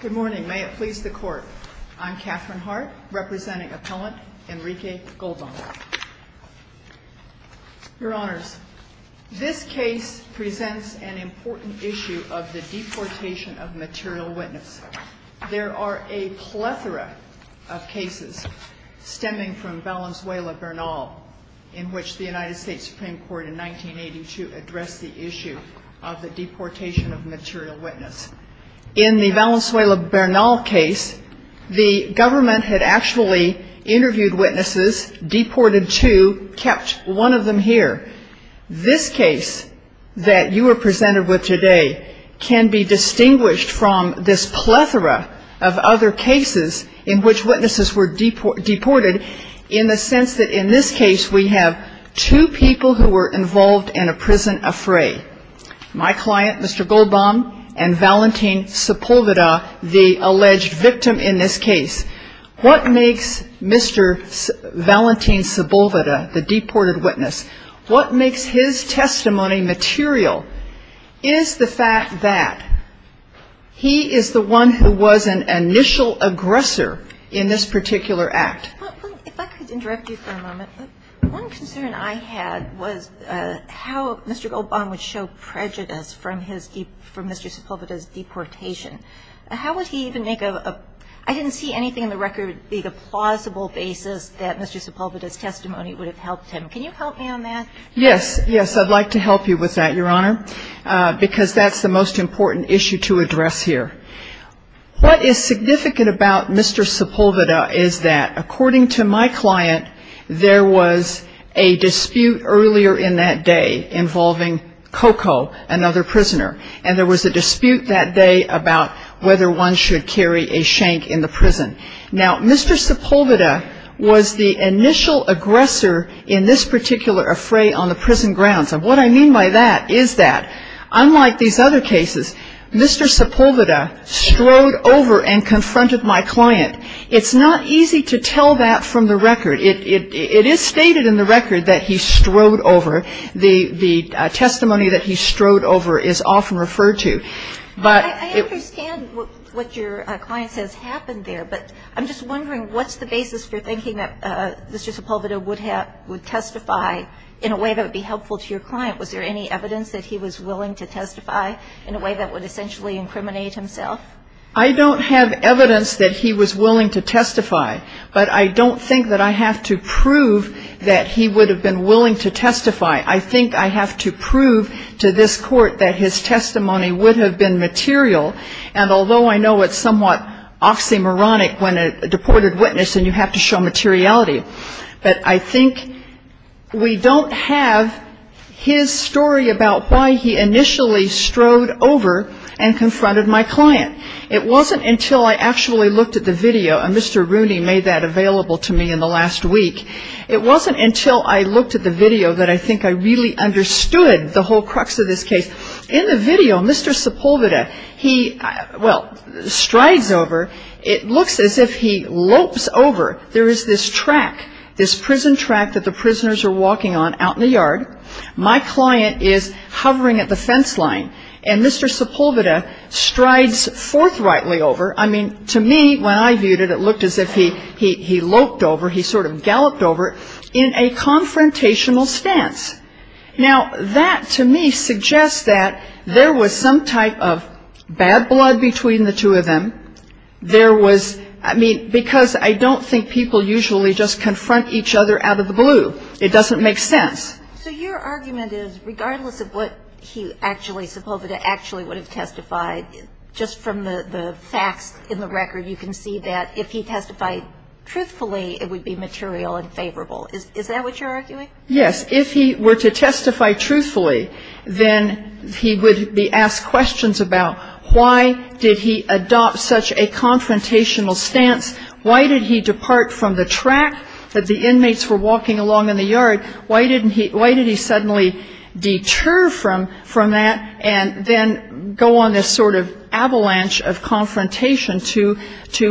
Good morning. May it please the Court, I'm Katherine Hart, representing Appellant Enrique Goldbaum. Your Honors, this case presents an important issue of the deportation of material witness. There are a plethora of cases stemming from Valenzuela Bernal, in which the United States Supreme Court in 1982 addressed the issue of the deportation of material witness. In the Valenzuela Bernal case, the government had actually interviewed witnesses, deported two, kept one of them here. This case that you are presented with today can be distinguished from this plethora of other cases in which witnesses were deported, in the sense that in this case we have two people who were involved in a prison affray. My client, Mr. Goldbaum, and Valentin Sepulveda, the alleged victim in this case. What makes Mr. Valentin Sepulveda, the deported witness, what makes his testimony material, is the fact that he is the one who was an initial aggressor in this particular act. If I could interrupt you for a moment. One concern I had was how Mr. Goldbaum would show prejudice from his, from Mr. Sepulveda's deportation. How would he even make a, I didn't see anything in the record being a plausible basis that Mr. Sepulveda's testimony would have helped him. Can you help me on that? Yes, yes. I'd like to help you with that, Your Honor, because that's the most important issue to address here. What is significant about Mr. Sepulveda is that, according to my client, there was a dispute earlier in that day involving Coco, another prisoner. And there was a dispute that day about whether one should carry a shank in the prison. Now, Mr. Sepulveda was the initial aggressor in this particular affray on the prison grounds. And what I mean by that is that, unlike these other cases, Mr. Sepulveda strode over and confronted my client. It's not easy to tell that from the record. It is stated in the record that he strode over. The testimony that he strode over is often referred to. I understand what your client says happened there, but I'm just wondering what's the basis for thinking that Mr. Sepulveda would testify in a way that would be helpful to your client? Was there any evidence that he was willing to testify in a way that would essentially incriminate himself? I don't have evidence that he was willing to testify, but I don't think that I have to prove that he would have been willing to testify. I think I have to prove to this Court that his testimony would have been material. And although I know it's somewhat oxymoronic when a deported witness and you have to show materiality, but I think we don't have his story about why he initially strode over and confronted my client. It wasn't until I actually looked at the video, and Mr. Rooney made that available to me in the last week, it wasn't until I looked at the video that I think I really understood the whole crux of this case. In the video, Mr. Sepulveda, he, well, strides over. It looks as if he lopes over. There is this track, this prison track that the prisoners are walking on out in the yard. My client is hovering at the fence line, and Mr. Sepulveda strides forthrightly over. I mean, to me, when I viewed it, it looked as if he loped over. He sort of galloped over in a confrontational stance. Now, that to me suggests that there was some type of bad blood between the two of them. There was, I mean, because I don't think people usually just confront each other out of the blue. It doesn't make sense. So your argument is regardless of what he actually, Sepulveda actually would have testified, just from the facts in the record, you can see that if he testified truthfully, it would be material and favorable. Is that what you're arguing? Yes. If he were to testify truthfully, then he would be asked questions about why did he adopt such a confrontational stance? Why did he depart from the track that the inmates were walking along in the yard? Why did he suddenly deter from that and then go on this sort of avalanche of confrontation to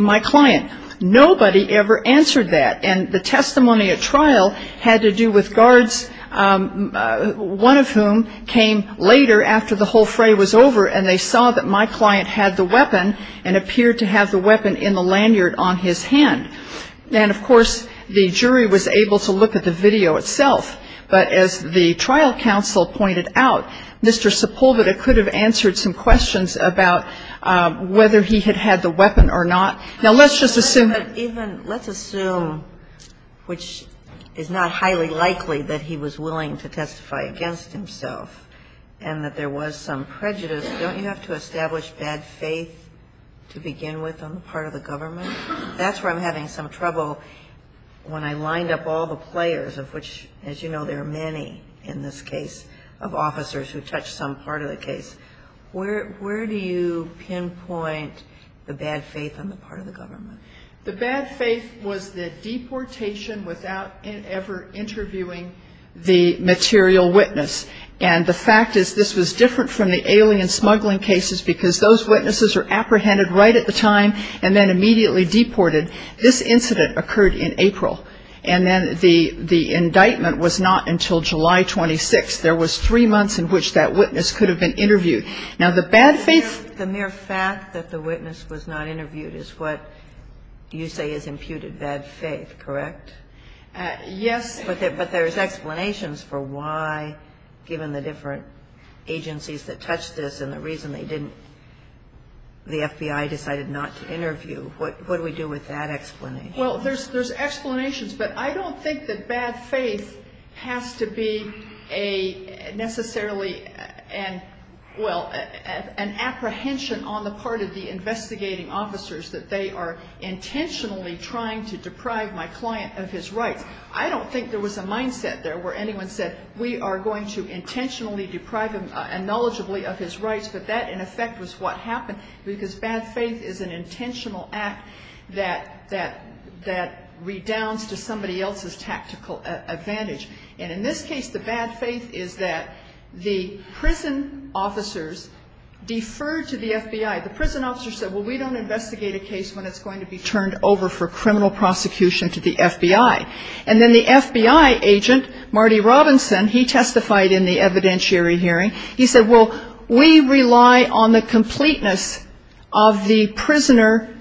my client? Nobody ever answered that. And the testimony at trial had to do with guards, one of whom came later after the whole fray was over and they saw that my client had the weapon and appeared to have the weapon in the lanyard on his hand. And, of course, the jury was able to look at the video itself. But as the trial counsel pointed out, Mr. Sepulveda could have answered some questions about whether he had had the weapon or not. Now, let's just assume that even – let's assume, which is not highly likely, that he was willing to testify against himself and that there was some prejudice. Don't you have to establish bad faith to begin with on the part of the government? That's where I'm having some trouble when I lined up all the players of which, as you know, there are many in this case of officers who touch some part of the case. Where do you pinpoint the bad faith on the part of the government? The bad faith was the deportation without ever interviewing the material witness. And the fact is this was different from the alien smuggling cases because those witnesses were apprehended right at the time and then immediately deported. This incident occurred in April, and then the indictment was not until July 26th. There was three months in which that witness could have been interviewed. Now, the bad faith – The mere fact that the witness was not interviewed is what you say is imputed bad faith, correct? Yes. But there's explanations for why, given the different agencies that touched this and the reason they didn't – the FBI decided not to interview. What do we do with that explanation? Well, there's explanations, but I don't think that bad faith has to be a necessarily – well, an apprehension on the part of the investigating officers that they are intentionally trying to deprive my client of his rights. I don't think there was a mindset there where anyone said, we are going to intentionally deprive him, acknowledgeably, of his rights. But that, in effect, was what happened because bad faith is an intentional act that redounds to somebody else's tactical advantage. And in this case, the bad faith is that the prison officers deferred to the FBI. The prison officers said, well, we don't investigate a case when it's going to be turned over for criminal prosecution to the FBI. And then the FBI agent, Marty Robinson, he testified in the evidentiary hearing. He said, well, we rely on the completeness of the prisoner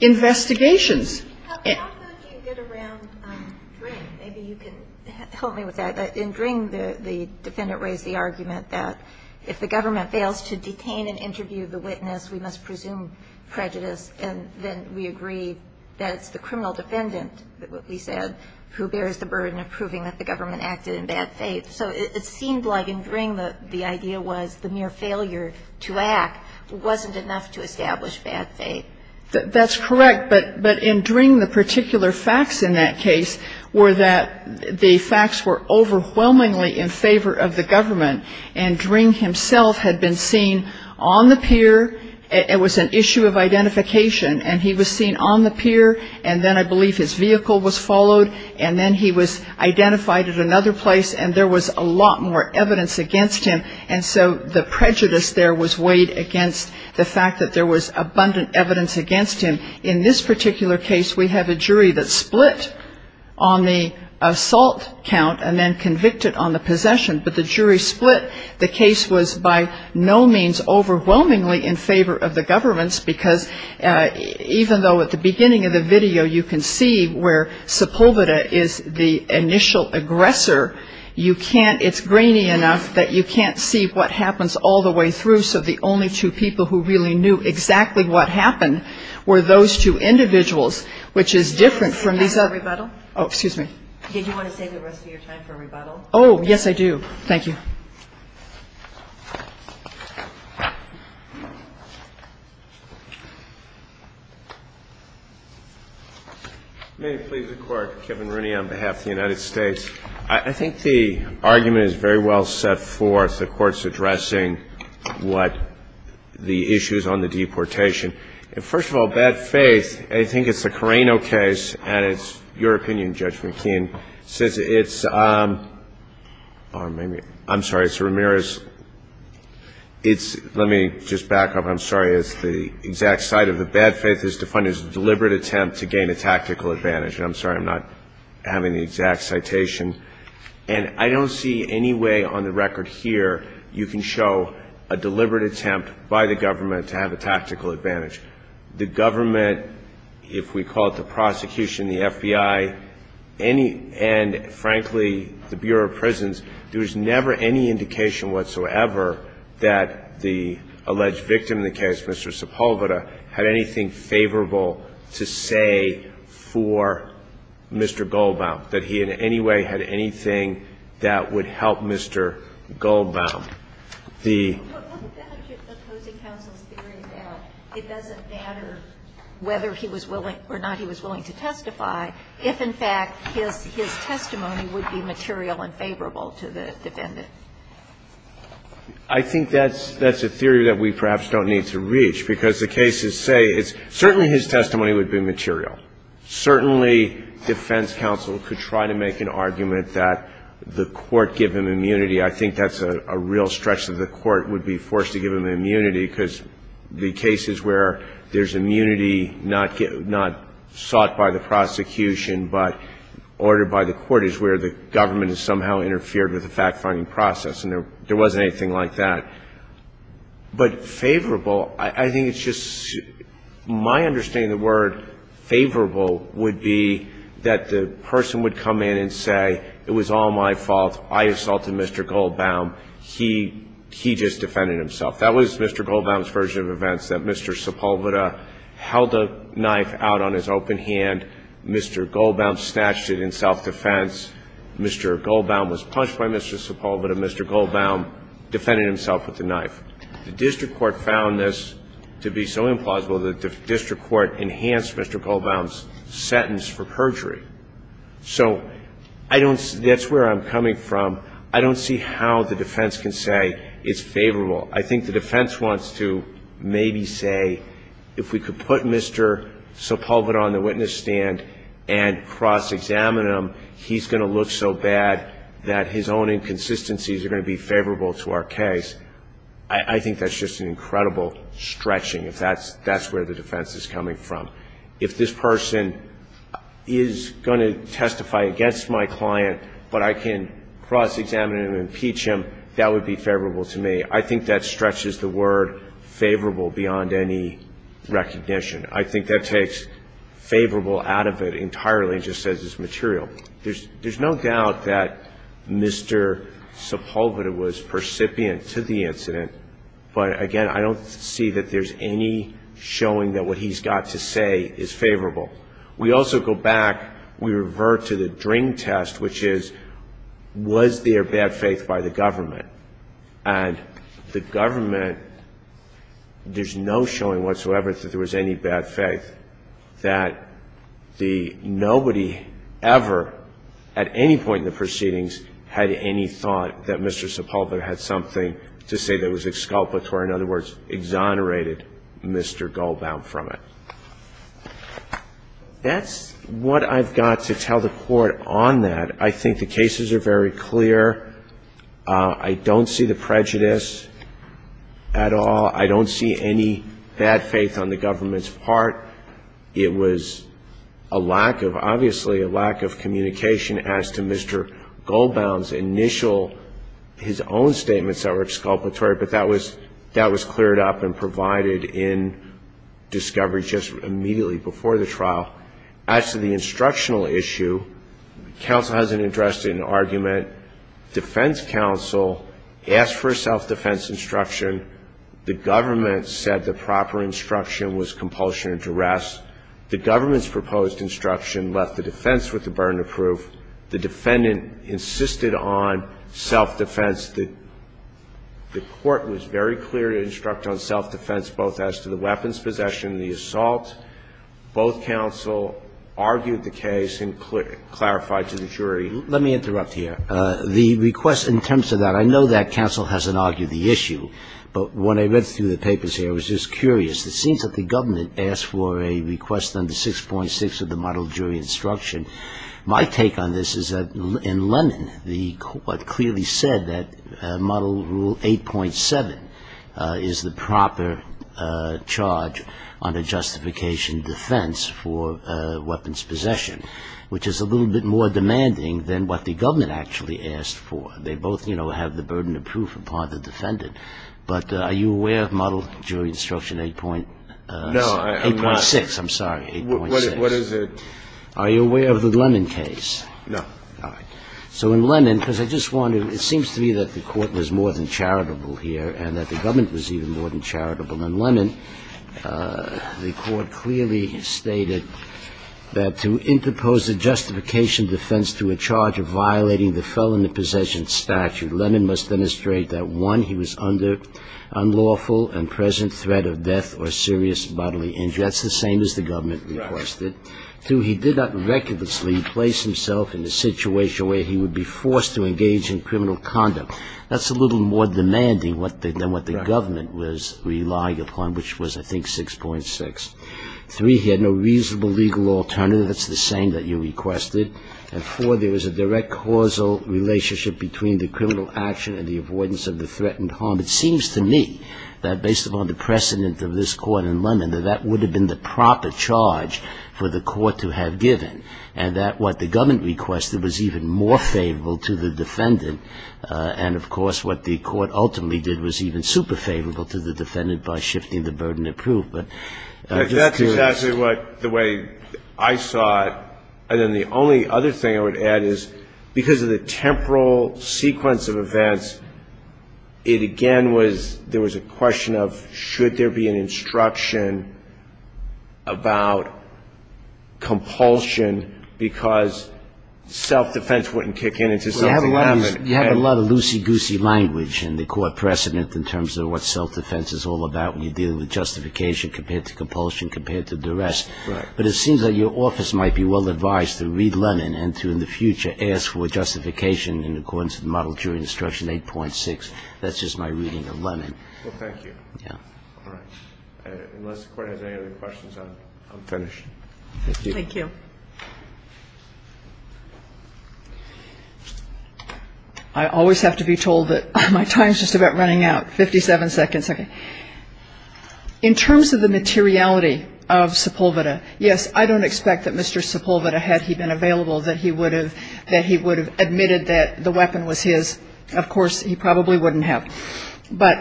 investigations. How did you get around Dring? Maybe you can help me with that. In Dring, the defendant raised the argument that if the government fails to detain and interview the witness, we must presume prejudice, and then we agree that it's the criminal defendant, what we said, who bears the burden of proving that the government acted in bad faith. So it seemed like in Dring the idea was the mere failure to act wasn't enough to establish bad faith. That's correct. But in Dring, the particular facts in that case were that the facts were overwhelmingly in favor of the government. And Dring himself had been seen on the pier. It was an issue of identification. And he was seen on the pier. And then I believe his vehicle was followed. And then he was identified at another place. And there was a lot more evidence against him. And so the prejudice there was weighed against the fact that there was abundant evidence against him. In this particular case, we have a jury that split on the assault count and then convicted on the possession. But the jury split. The case was by no means overwhelmingly in favor of the governments, because even though at the beginning of the video you can see where Sepulveda is the initial aggressor, you can't ‑‑ it's grainy enough that you can't see what happens all the way through. So the only two people who really knew exactly what happened were those two individuals, which is different from these other ‑‑ Did you save the rest of your time for rebuttal? Oh, excuse me? Did you want to save the rest of your time for rebuttal? Oh, yes, I do. Thank you. May it please the Court. Kevin Rooney on behalf of the United States. I think the argument is very well set forth. The Court's addressing what the issues on the deportation. First of all, bad faith, I think it's a Carreno case, and it's your opinion, Judge McKeon, since it's ‑‑ I'm sorry, it's Ramirez. Let me just back up. I'm sorry, it's the exact site of the bad faith. It's defined as a deliberate attempt to gain a tactical advantage. I'm sorry, I'm not having the exact citation. And I don't see any way on the record here you can show a deliberate attempt by the government to have a tactical advantage. The government, if we call it the prosecution, the FBI, and, frankly, the Bureau of Prisons, there was never any indication whatsoever that the alleged victim in the case, Mr. Sepulveda, had anything favorable to say for Mr. Goldbaum, that he in any way had anything that would help Mr. Goldbaum. The ‑‑ It doesn't matter whether he was willing or not he was willing to testify, if, in fact, his testimony would be material and favorable to the defendant. I think that's a theory that we perhaps don't need to reach, because the cases say, certainly his testimony would be material. Certainly defense counsel could try to make an argument that the court give him immunity. I think that's a real stretch that the court would be forced to give him immunity, because the cases where there's immunity not sought by the prosecution but ordered by the court is where the government has somehow interfered with the fact‑finding process. And there wasn't anything like that. But favorable, I think it's just my understanding of the word favorable would be that the person would come in and say, it was all my fault. I assaulted Mr. Goldbaum. He just defended himself. That was Mr. Goldbaum's version of events, that Mr. Sepulveda held a knife out on his open hand. Mr. Goldbaum snatched it in self‑defense. Mr. Goldbaum was punched by Mr. Sepulveda. Mr. Goldbaum defended himself with the knife. The district court found this to be so implausible that the district court enhanced Mr. Goldbaum's sentence for perjury. So I don't ‑‑ that's where I'm coming from. I don't see how the defense can say it's favorable. I think the defense wants to maybe say if we could put Mr. Sepulveda on the witness stand and cross‑examine him, he's going to look so bad that his own inconsistencies are going to be favorable to our case. I think that's just an incredible stretching, if that's where the defense is coming from. If this person is going to testify against my client, but I can cross‑examine him and impeach him, that would be favorable to me. I think that stretches the word favorable beyond any recognition. I think that takes favorable out of it entirely, just as is material. There's no doubt that Mr. Sepulveda was percipient to the incident, but, again, I don't see that there's any showing that what he's got to say is favorable. We also go back, we revert to the DRING test, which is was there bad faith by the government? And the government, there's no showing whatsoever that there was any bad faith, that nobody ever at any point in the proceedings had any thought that Mr. Sepulveda had something to say that was exculpatory, in other words, exonerated Mr. Goldbaum from it. That's what I've got to tell the Court on that. I think the cases are very clear. I don't see the prejudice at all. I don't see any bad faith on the government's part. It was a lack of, obviously, a lack of communication as to Mr. Goldbaum's initial, his own statements that were exculpatory, but that was cleared up and provided in discovery just immediately before the trial. As to the instructional issue, counsel hasn't addressed it in argument. Defense counsel asked for a self-defense instruction. The government said the proper instruction was compulsion and duress. The government's proposed instruction left the defense with the burden of proof. The defendant insisted on self-defense. The Court was very clear to instruct on self-defense, both as to the weapons possession and the assault. Both counsel argued the case and clarified to the jury. Let me interrupt here. The request in terms of that, I know that counsel hasn't argued the issue, but when I read through the papers here, I was just curious. It seems that the government asked for a request under 6.6 of the model jury instruction. My take on this is that in Lennon, the Court clearly said that model rule 8.7 is the proper charge on a justification defense for weapons possession, which is a little bit more demanding than what the government actually asked for. They both, you know, have the burden of proof upon the defendant. But are you aware of model jury instruction 8.6? I'm sorry, 8.6. What is it? Are you aware of the Lennon case? No. All right. So in Lennon, because I just wondered, it seems to me that the Court was more than charitable here and that the government was even more than charitable. And Lennon, the Court clearly stated that to interpose a justification defense to a charge of violating the felony possession statute, Lennon must demonstrate that, one, he was under unlawful and present threat of death or serious bodily injury. That's the same as the government requested. Two, he did not recklessly place himself in a situation where he would be forced to engage in criminal conduct. That's a little more demanding than what the government was relying upon, which was, I think, 6.6. Three, he had no reasonable legal alternative. That's the same that you requested. And four, there was a direct causal relationship between the criminal action and the avoidance of the threatened harm. It seems to me that based upon the precedent of this Court in Lennon, that that would have been the proper charge for the Court to have given, and that what the government requested was even more favorable to the defendant. And, of course, what the Court ultimately did was even super favorable to the defendant by shifting the burden of proof. But that's true. That's exactly what the way I saw it. And then the only other thing I would add is because of the temporal sequence of events, it again was there was a question of should there be an instruction about compulsion, because self-defense wouldn't kick in until something happened. You have a lot of loosey-goosey language in the Court precedent in terms of what self-defense is all about when you're dealing with justification compared to compulsion compared to duress. Right. But it seems that your office might be well advised to read Lennon and to, in the future, ask for justification in accordance with Model Jury Instruction 8.6. That's just my reading of Lennon. Well, thank you. Yeah. All right. Unless the Court has any other questions, I'm finished. Thank you. Thank you. I always have to be told that my time is just about running out. Fifty-seven seconds. Okay. In terms of the materiality of Sepulveda, yes, I don't expect that Mr. Sepulveda, had he been available, that he would have admitted that the weapon was his. Of course, he probably wouldn't have. But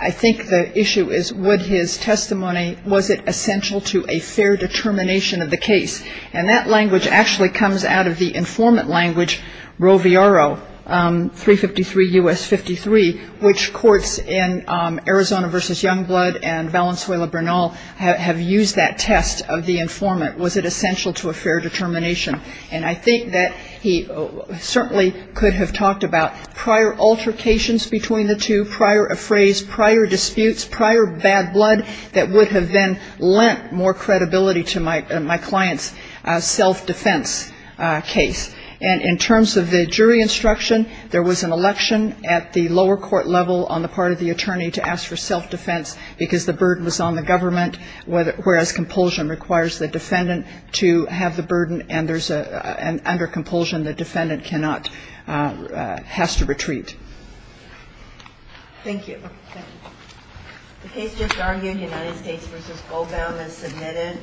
I think the issue is would his testimony, was it essential to a fair determination of the case? And that language actually comes out of the informant language, Roviaro, 353 U.S. 53, which courts in Arizona v. Youngblood and Valenzuela-Bernal have used that test of the informant. Was it essential to a fair determination? And I think that he certainly could have talked about prior altercations between the two, prior affrays, prior disputes, prior bad blood that would have then lent more credibility to my client's self-defense case. And in terms of the jury instruction, there was an election at the lower court level on the part of the attorney to ask for self-defense because the burden was on the government, whereas compulsion requires the defendant to have the burden, and under compulsion the defendant cannot, has to retreat. Thank you. The case just argued, United States v. Obam, is submitted.